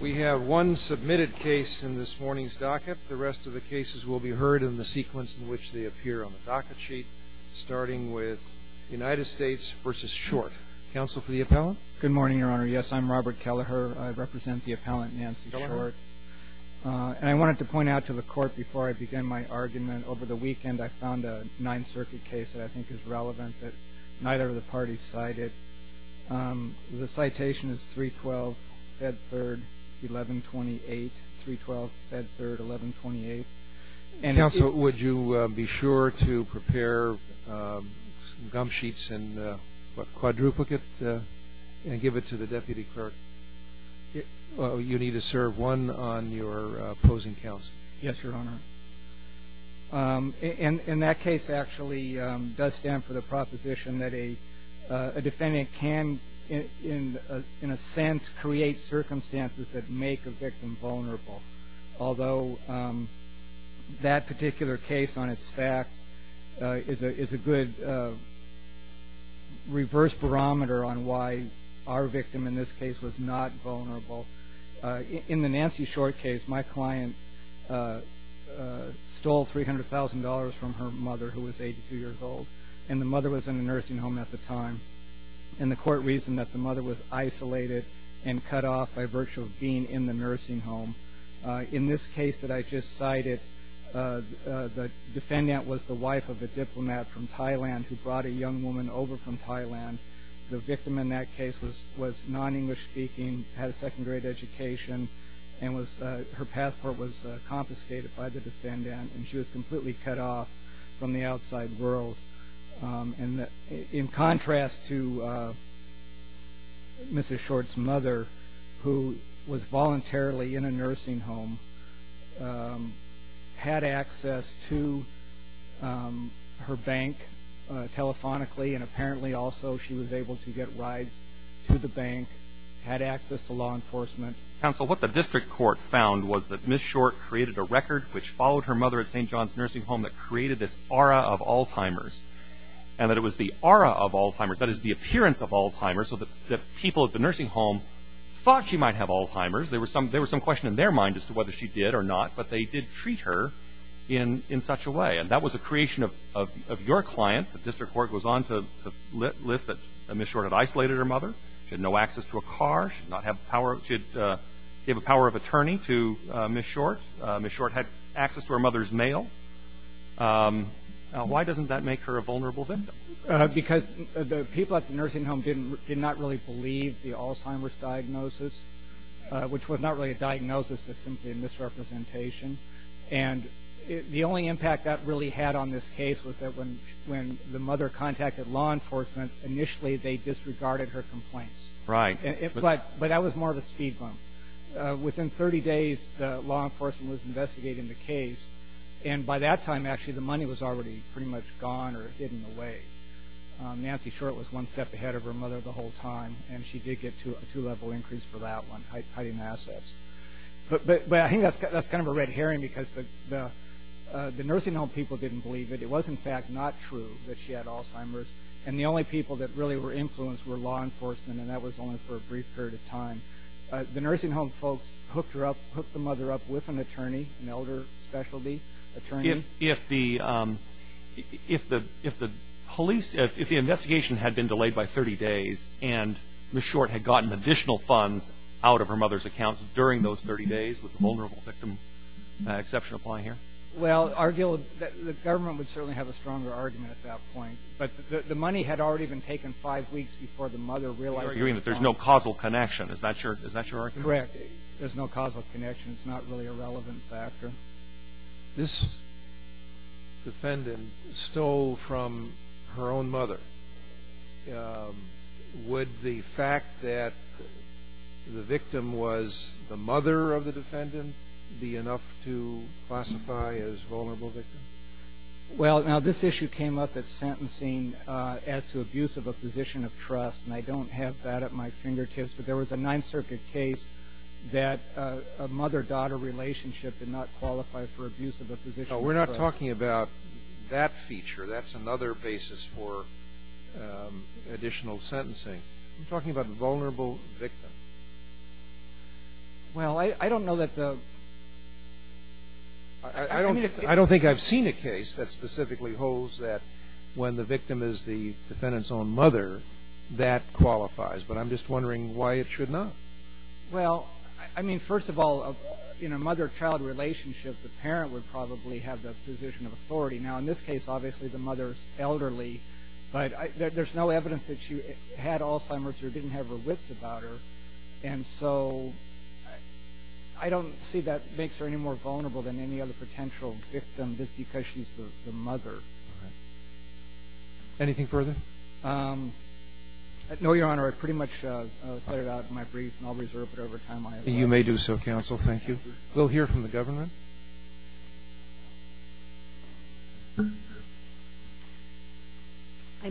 We have one submitted case in this morning's docket. The rest of the cases will be heard in the sequence in which they appear on the docket sheet, starting with United States v. Short. Counsel for the appellant? Good morning, Your Honor. Yes, I'm Robert Kelleher. I represent the appellant Nancy Short. And I wanted to point out to the Court, before I begin my argument, over the weekend I found a Ninth Circuit case that I think is relevant that neither of the parties cited. The citation is 312, Fed Third, 1128. 312, Fed Third, 1128. Counsel, would you be sure to prepare some gum sheets and a quadruplicate and give it to the deputy clerk? You need to serve one on your opposing counsel. Yes, Your Honor. And that case actually does stand for the proposition that a defendant can, in a sense, create circumstances that make a victim vulnerable. Although that particular case on its facts is a good reverse barometer on why our victim in this case was not vulnerable. In the Nancy Short case, my client stole $300,000 from her mother, who was 82 years old. And the mother was in a nursing home at the time. And the Court reasoned that the mother was isolated and cut off by virtue of being in the nursing home. In this case that I just cited, the defendant was the wife of a diplomat from Thailand who brought a young woman over from Thailand. The victim in that case was non-English speaking, had a second grade education, and her passport was confiscated by the defendant. And she was completely cut off from the outside world. And in contrast to Mrs. Short's mother, who was voluntarily in a nursing home, had access to her bank telephonically, and apparently also she was able to get rides to the bank, had access to law enforcement. Counsel, what the District Court found was that Ms. Short created a record which followed her mother at St. John's Nursing Home that created this aura of Alzheimer's. And that it was the aura of Alzheimer's, that is the appearance of Alzheimer's, so that people at the nursing home thought she might have Alzheimer's. There was some question in their mind as to whether she did or not. But they did treat her in such a way. And that was a creation of your client. The District Court goes on to list that Ms. Short had isolated her mother. She had no access to a car. She did not have the power of attorney to Ms. Short. Ms. Short had access to her mother's mail. Why doesn't that make her a vulnerable victim? Because the people at the nursing home did not really believe the Alzheimer's diagnosis, which was not really a diagnosis but simply a misrepresentation. And the only impact that really had on this case was that when the mother contacted law enforcement, initially they disregarded her complaints. Right. But that was more of a speed bump. Within 30 days, law enforcement was investigating the case. And by that time, actually, the money was already pretty much gone or hidden away. Nancy Short was one step ahead of her mother the whole time, and she did get a two-level increase for that one, hiding assets. But I think that's kind of a red herring because the nursing home people didn't believe it. It was, in fact, not true that she had Alzheimer's. And the only people that really were influenced were law enforcement, and that was only for a brief period of time. The nursing home folks hooked her up, hooked the mother up with an attorney, an elder specialty attorney. If the police, if the investigation had been delayed by 30 days and Ms. Short had gotten additional funds out of her mother's account during those 30 days, would the vulnerable victim exception apply here? Well, the government would certainly have a stronger argument at that point. But the money had already been taken five weeks before the mother realized it had gone. You're arguing that there's no causal connection. Is that your argument? Correct. There's no causal connection. It's not really a relevant factor. This defendant stole from her own mother. Would the fact that the victim was the mother of the defendant be enough to classify as vulnerable victim? Well, now, this issue came up at sentencing as to abuse of a position of trust, and I don't have that at my fingertips. But there was a Ninth Circuit case that a mother-daughter relationship did not qualify for abuse of a position of trust. No, we're not talking about that feature. That's another basis for additional sentencing. We're talking about the vulnerable victim. Well, I don't know that the ---- I don't think I've seen a case that specifically holds that when the victim is the defendant's own mother, that qualifies. But I'm just wondering why it should not. Well, I mean, first of all, in a mother-child relationship, the parent would probably have the position of authority. Now, in this case, obviously the mother is elderly, but there's no evidence that she had Alzheimer's or didn't have her wits about her. And so I don't see that makes her any more vulnerable than any other potential victim just because she's the mother. All right. Anything further? No, Your Honor. I pretty much set it out in my brief, and I'll reserve it over time. You may do so, counsel. Thank you. We'll hear from the government. I'm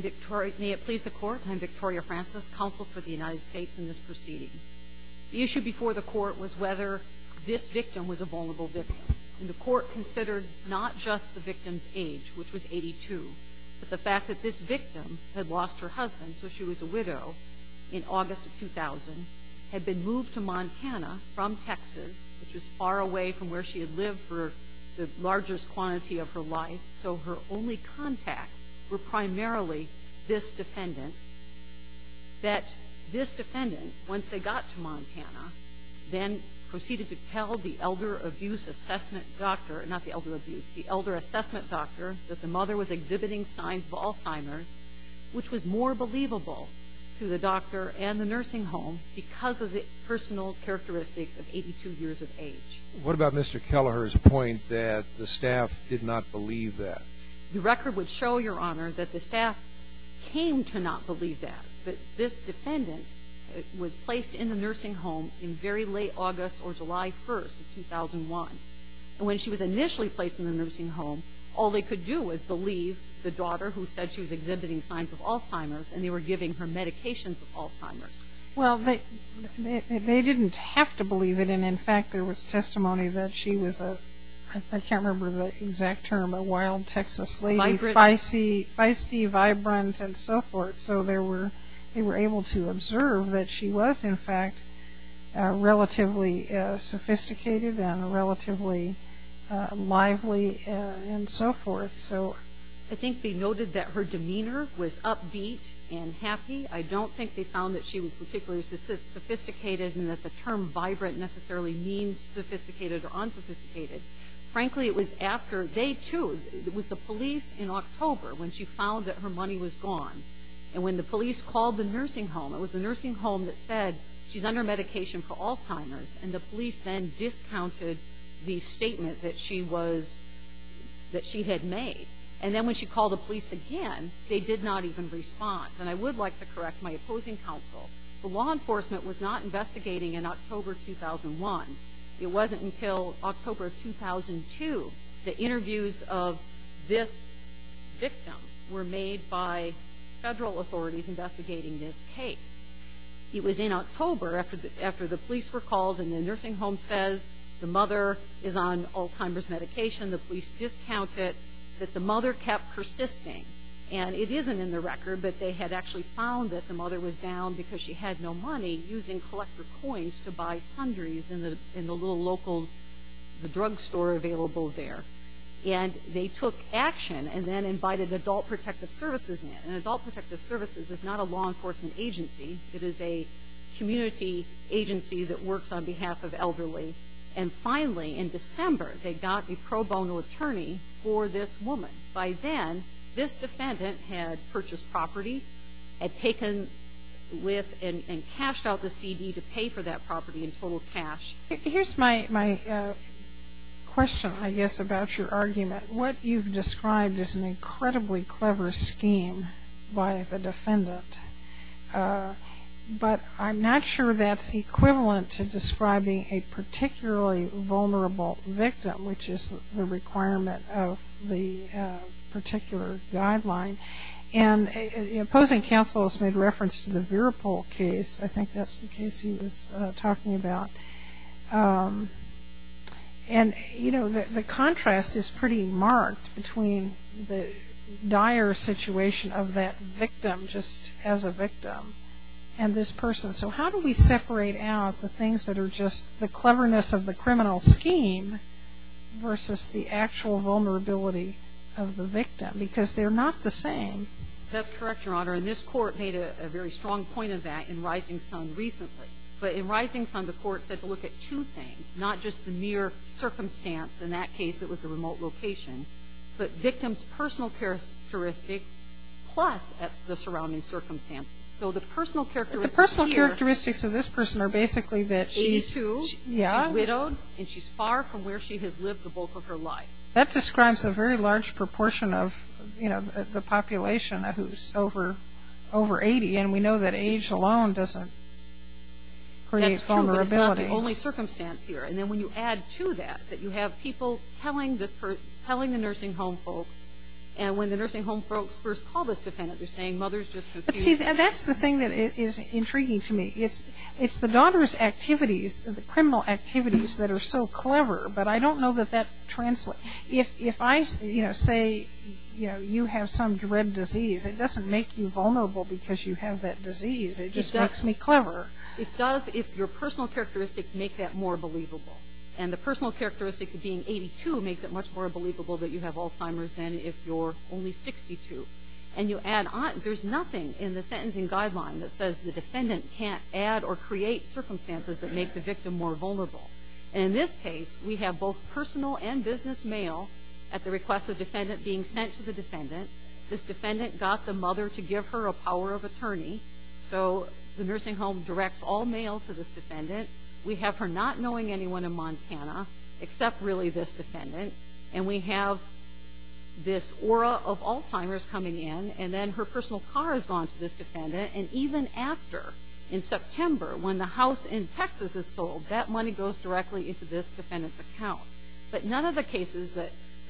Victoria. May it please the Court? I'm Victoria Francis, counsel for the United States in this proceeding. The issue before the Court was whether this victim was a vulnerable victim. And the Court considered not just the victim's age, which was 82, but the fact that this victim had lost her husband, so she was a widow, in August of 2000, had been moved to Montana from Texas, which was far away from where she had lived for the largest quantity of her life, so her only contacts were primarily this defendant, that this defendant, once they got to Montana, then proceeded to tell the elder abuse assessment doctor, not the elder abuse, the elder assessment doctor that the mother was exhibiting signs of Alzheimer's, which was more believable to the doctor and the nursing home because of the personal characteristic of 82 years of age. What about Mr. Kelleher's point that the staff did not believe that? The record would show, Your Honor, that the staff came to not believe that, that this defendant was placed in the nursing home in very late August or July 1st of 2001. And when she was initially placed in the nursing home, all they could do was believe the daughter who said she was exhibiting signs of Alzheimer's, and they were giving her medications of Alzheimer's. Well, they didn't have to believe it. And, in fact, there was testimony that she was a, I can't remember the exact term, a wild Texas lady, feisty, vibrant, and so forth. So they were able to observe that she was, in fact, relatively sophisticated and relatively lively and so forth. I think they noted that her demeanor was upbeat and happy. I don't think they found that she was particularly sophisticated and that the term vibrant necessarily means sophisticated or unsophisticated. Frankly, it was after day two. It was the police in October when she found that her money was gone. And when the police called the nursing home, it was the nursing home that said she's under medication for Alzheimer's, and the police then discounted the statement that she was, that she had made. And then when she called the police again, they did not even respond. And I would like to correct my opposing counsel. The law enforcement was not investigating in October 2001. It wasn't until October of 2002 that interviews of this victim were made by federal authorities investigating this case. It was in October after the police were called and the nursing home says the mother is on Alzheimer's medication. The police discounted that the mother kept persisting. And it isn't in the record, but they had actually found that the mother was down because she had no money using collector coins to buy sundries in the little local drug store available there. And they took action and then invited Adult Protective Services in. And Adult Protective Services is not a law enforcement agency. It is a community agency that works on behalf of elderly. And finally, in December, they got a pro bono attorney for this woman. By then, this defendant had purchased property, had taken with and cashed out the CD to pay for that property in total cash. Here's my question, I guess, about your argument. What you've described is an incredibly clever scheme by the defendant. But I'm not sure that's equivalent to describing a particularly vulnerable victim, which is the requirement of the particular guideline. And opposing counsel has made reference to the Viripol case. I think that's the case he was talking about. And, you know, the contrast is pretty marked between the dire situation of that victim, just as a victim, and this person. So how do we separate out the things that are just the cleverness of the criminal scheme versus the actual vulnerability of the victim? Because they're not the same. That's correct, Your Honor. And this Court made a very strong point of that in Rising Sun recently. But in Rising Sun, the Court said to look at two things, not just the mere circumstance. In that case, it was the remote location. But victims' personal characteristics plus the surrounding circumstances. The personal characteristics of this person are basically that she's widowed and she's far from where she has lived the bulk of her life. That describes a very large proportion of the population who's over 80, and we know that age alone doesn't create vulnerability. That's true, but it's not the only circumstance here. And then when you add to that that you have people telling the nursing home folks, and when the nursing home folks first call this defendant, they're saying mother's just confused. But see, that's the thing that is intriguing to me. It's the daughter's activities, the criminal activities that are so clever, but I don't know that that translates. If I say, you know, you have some dread disease, it doesn't make you vulnerable because you have that disease. It just makes me clever. It does if your personal characteristics make that more believable. And the personal characteristic of being 82 makes it much more believable that you have Alzheimer's than if you're only 62. And you add on, there's nothing in the sentencing guideline that says the defendant can't add or create circumstances that make the victim more vulnerable. And in this case, we have both personal and business mail at the request of the defendant being sent to the defendant. This defendant got the mother to give her a power of attorney, so the nursing home directs all mail to this defendant. We have her not knowing anyone in Montana except really this defendant, and we have this aura of Alzheimer's coming in, and then her personal car has gone to this defendant. And even after, in September, when the house in Texas is sold, that money goes directly into this defendant's account. But none of the cases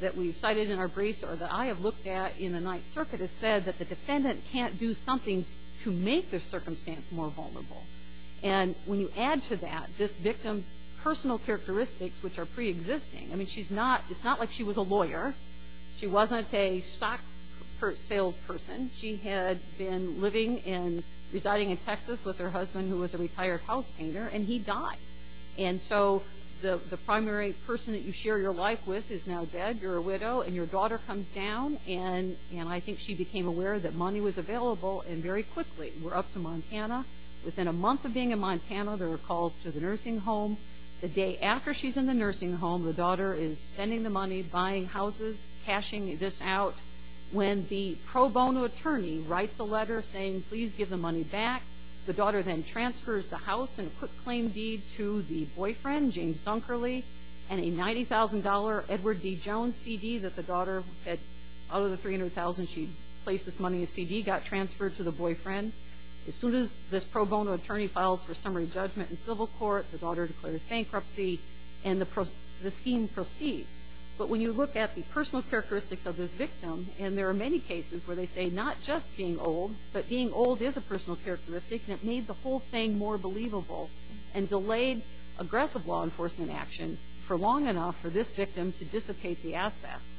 that we've cited in our briefs or that I have looked at in the Ninth Circuit has said that the defendant can't do something to make their circumstance more vulnerable. And when you add to that this victim's personal characteristics, which are preexisting, I mean, it's not like she was a lawyer. She wasn't a stock salesperson. She had been living and residing in Texas with her husband, who was a retired house painter, and he died. And so the primary person that you share your life with is now dead. You're a widow, and your daughter comes down, and I think she became aware that money was available, and very quickly we're up to Montana. Within a month of being in Montana, there are calls to the nursing home. The day after she's in the nursing home, the daughter is spending the money buying houses, cashing this out, when the pro bono attorney writes a letter saying, please give the money back. The daughter then transfers the house in a quick claim deed to the boyfriend, James Dunkerley, and a $90,000 Edward D. Jones CD that the daughter had, out of the $300,000 she'd placed this money in a CD, got transferred to the boyfriend. As soon as this pro bono attorney files for summary judgment in civil court, the daughter declares bankruptcy, and the scheme proceeds. But when you look at the personal characteristics of this victim, and there are many cases where they say not just being old, but being old is a personal characteristic, and it made the whole thing more believable and delayed aggressive law enforcement action for long enough for this victim to dissipate the assets,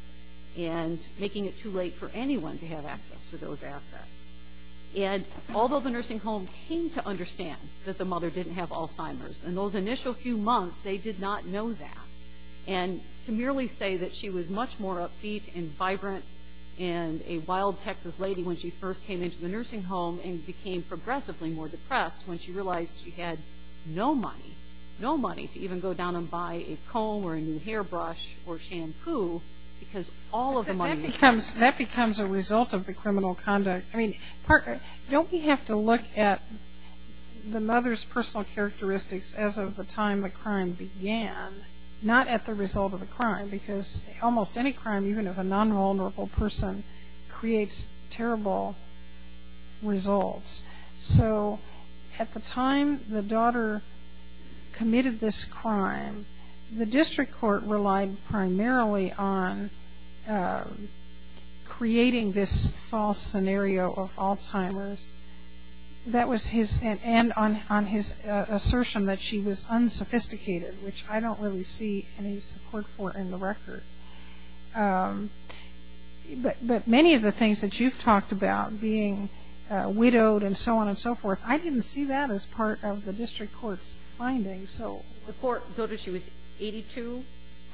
and making it too late for anyone to have access to those assets. And although the nursing home came to understand that the mother didn't have Alzheimer's, in those initial few months they did not know that. And to merely say that she was much more upbeat and vibrant and a wild Texas lady when she first came into the nursing home and became progressively more depressed when she realized she had no money, no money to even go down and buy a comb or a new hairbrush or shampoo, because all of the money was gone. That becomes a result of the criminal conduct. Don't we have to look at the mother's personal characteristics as of the time the crime began, not at the result of the crime, because almost any crime, even if a non-vulnerable person, creates terrible results. So at the time the daughter committed this crime, the district court relied primarily on creating this false scenario of Alzheimer's, and on his assertion that she was unsophisticated, which I don't really see any support for in the record. But many of the things that you've talked about, being widowed and so on and so forth, I didn't see that as part of the district court's findings. So the court noted she was 82,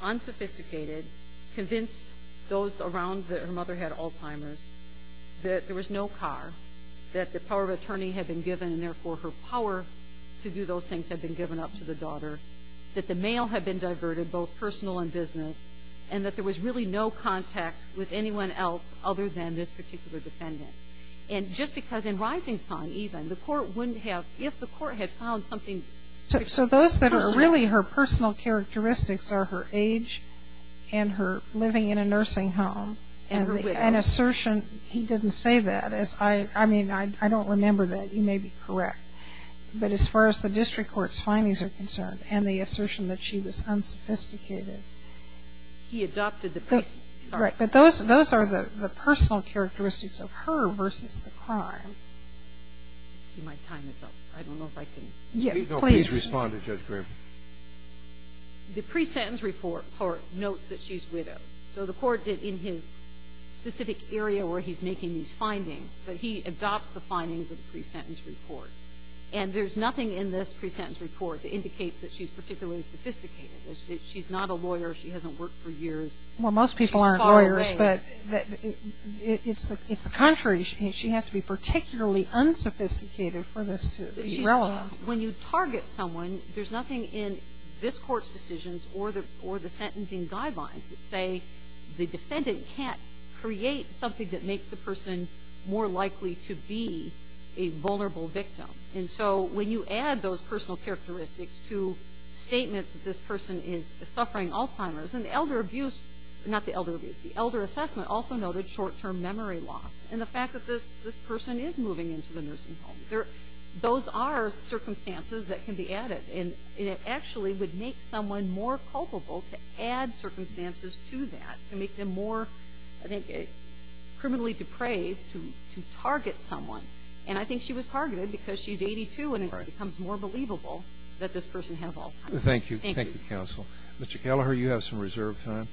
unsophisticated, convinced those around her mother had Alzheimer's, that there was no car, that the power of attorney had been given, and therefore her power to do those things had been given up to the daughter, that the mail had been diverted, both personal and business, and that there was really no contact with anyone else other than this particular defendant. And just because in Rising Sun, even, the court wouldn't have, if the court had found something. So those that are really her personal characteristics are her age and her living in a nursing home. And an assertion, he didn't say that. I mean, I don't remember that. You may be correct. But as far as the district court's findings are concerned and the assertion that she was unsophisticated. He adopted the. Right. But those are the personal characteristics of her versus the crime. I see my time is up. I don't know if I can. Yes, please. No, please respond to Judge Grim. The pre-sentence report notes that she's widowed. So the court did in his specific area where he's making these findings, that he adopts the findings of the pre-sentence report. And there's nothing in this pre-sentence report that indicates that she's particularly sophisticated. She's not a lawyer. She hasn't worked for years. Well, most people aren't lawyers. She's far away. But it's the contrary. She has to be particularly unsophisticated for this to be relevant. When you target someone, there's nothing in this Court's decisions or the sentencing guidelines that say the defendant can't create something that makes the person more likely to be a vulnerable victim. And so when you add those personal characteristics to statements that this person is suffering Alzheimer's and elder abuse, not the elder abuse, the elder assessment also noted short-term memory loss. And the fact that this person is moving into the nursing home, those are circumstances that can be added. And it actually would make someone more culpable to add circumstances to that to make them more, I think, criminally depraved to target someone. And I think she was targeted because she's 82 and it becomes more believable that this person has Alzheimer's. Thank you. Thank you, counsel. Mr. Kelleher, you have some reserved time.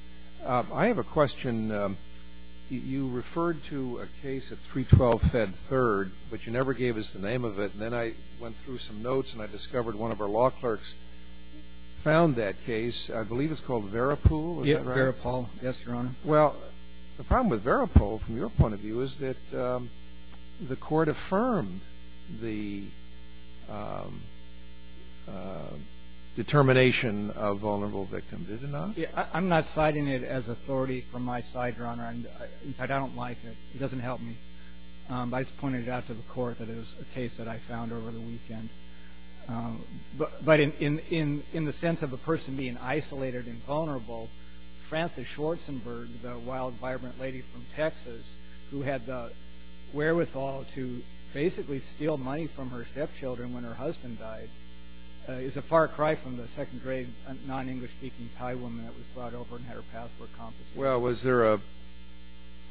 I have a question. You referred to a case at 312 Fed 3rd, but you never gave us the name of it. And then I went through some notes and I discovered one of our law clerks found that case. I believe it's called Verapool. Is that right? Verapool, yes, Your Honor. Well, the problem with Verapool, from your point of view, is that the Court affirmed the determination of vulnerable victim, did it not? I'm not citing it as authority from my side, Your Honor. In fact, I don't like it. It doesn't help me. I just pointed it out to the Court that it was a case that I found over the weekend. But in the sense of a person being isolated and vulnerable, Frances Schwarzenberg, the wild, vibrant lady from Texas, who had the wherewithal to basically steal money from her stepchildren when her husband died, is a far cry from the second-grade, non-English-speaking Thai woman that was brought over and had her passport confiscated. Well, was there a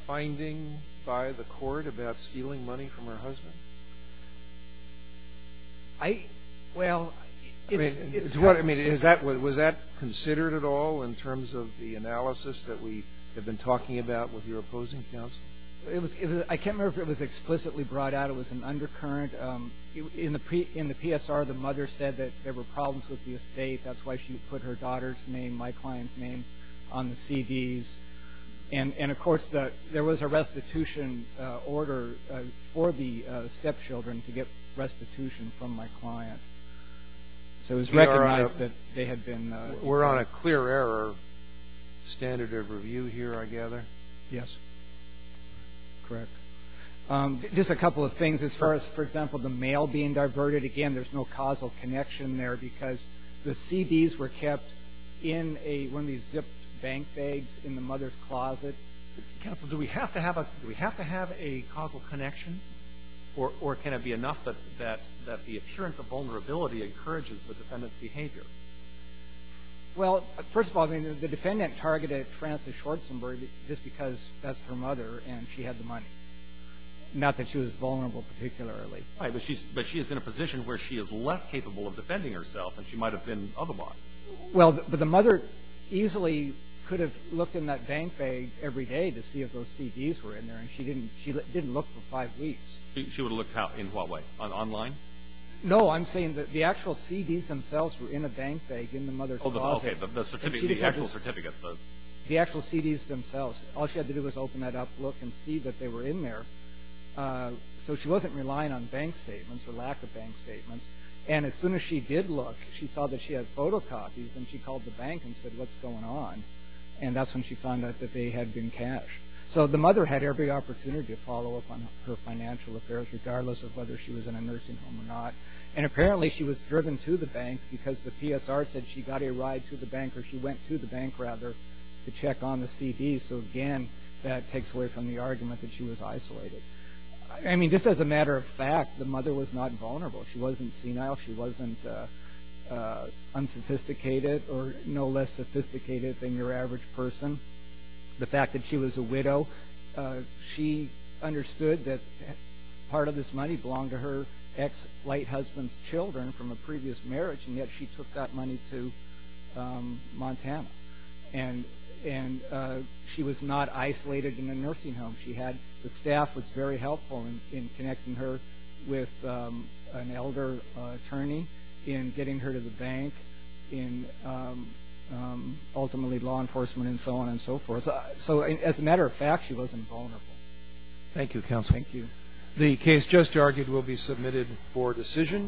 finding by the Court about stealing money from her husband? I – well, it's – I mean, is that – was that considered at all in terms of the analysis that we have been talking about with your opposing counsel? I can't remember if it was explicitly brought out. It was an undercurrent. In the PSR, the mother said that there were problems with the estate. That's why she put her daughter's name, my client's name, on the CDs. And, of course, there was a restitution order for the stepchildren to get restitution from my client. So it was recognized that they had been – We're on a clear error standard of review here, I gather? Yes. Correct. Just a couple of things. As far as, for example, the mail being diverted, again, there's no causal connection there because the CDs were kept in a – one of these zipped bank bags in the mother's closet. Counsel, do we have to have a – do we have to have a causal connection? Or can it be enough that the appearance of vulnerability encourages the defendant's behavior? Well, first of all, I mean, the defendant targeted Frances Schwarzenberg just because that's her mother and she had the money, not that she was vulnerable particularly. Right, but she is in a position where she is less capable of defending herself than she might have been otherwise. Well, but the mother easily could have looked in that bank bag every day to see if those CDs were in there, and she didn't look for five weeks. She would have looked in what way, online? No, I'm saying that the actual CDs themselves were in a bank bag in the mother's closet. Oh, okay, the actual certificate. The actual CDs themselves. All she had to do was open that up, look, and see that they were in there. So she wasn't relying on bank statements or lack of bank statements. And as soon as she did look, she saw that she had photocopies, and she called the bank and said, what's going on? And that's when she found out that they had been cashed. So the mother had every opportunity to follow up on her financial affairs, regardless of whether she was in a nursing home or not. And apparently she was driven to the bank because the PSR said she got a ride to the bank or she went to the bank, rather, to check on the CDs. So, again, that takes away from the argument that she was isolated. I mean, just as a matter of fact, the mother was not vulnerable. She wasn't senile. She wasn't unsophisticated or no less sophisticated than your average person. The fact that she was a widow, she understood that part of this money belonged to her ex-light husband's children from a previous marriage, and yet she took that money to Montana. And she was not isolated in a nursing home. The staff was very helpful in connecting her with an elder attorney, in getting her to the bank, in ultimately law enforcement and so on and so forth. So as a matter of fact, she wasn't vulnerable. Thank you, counsel. Thank you. The case just argued will be submitted for decision.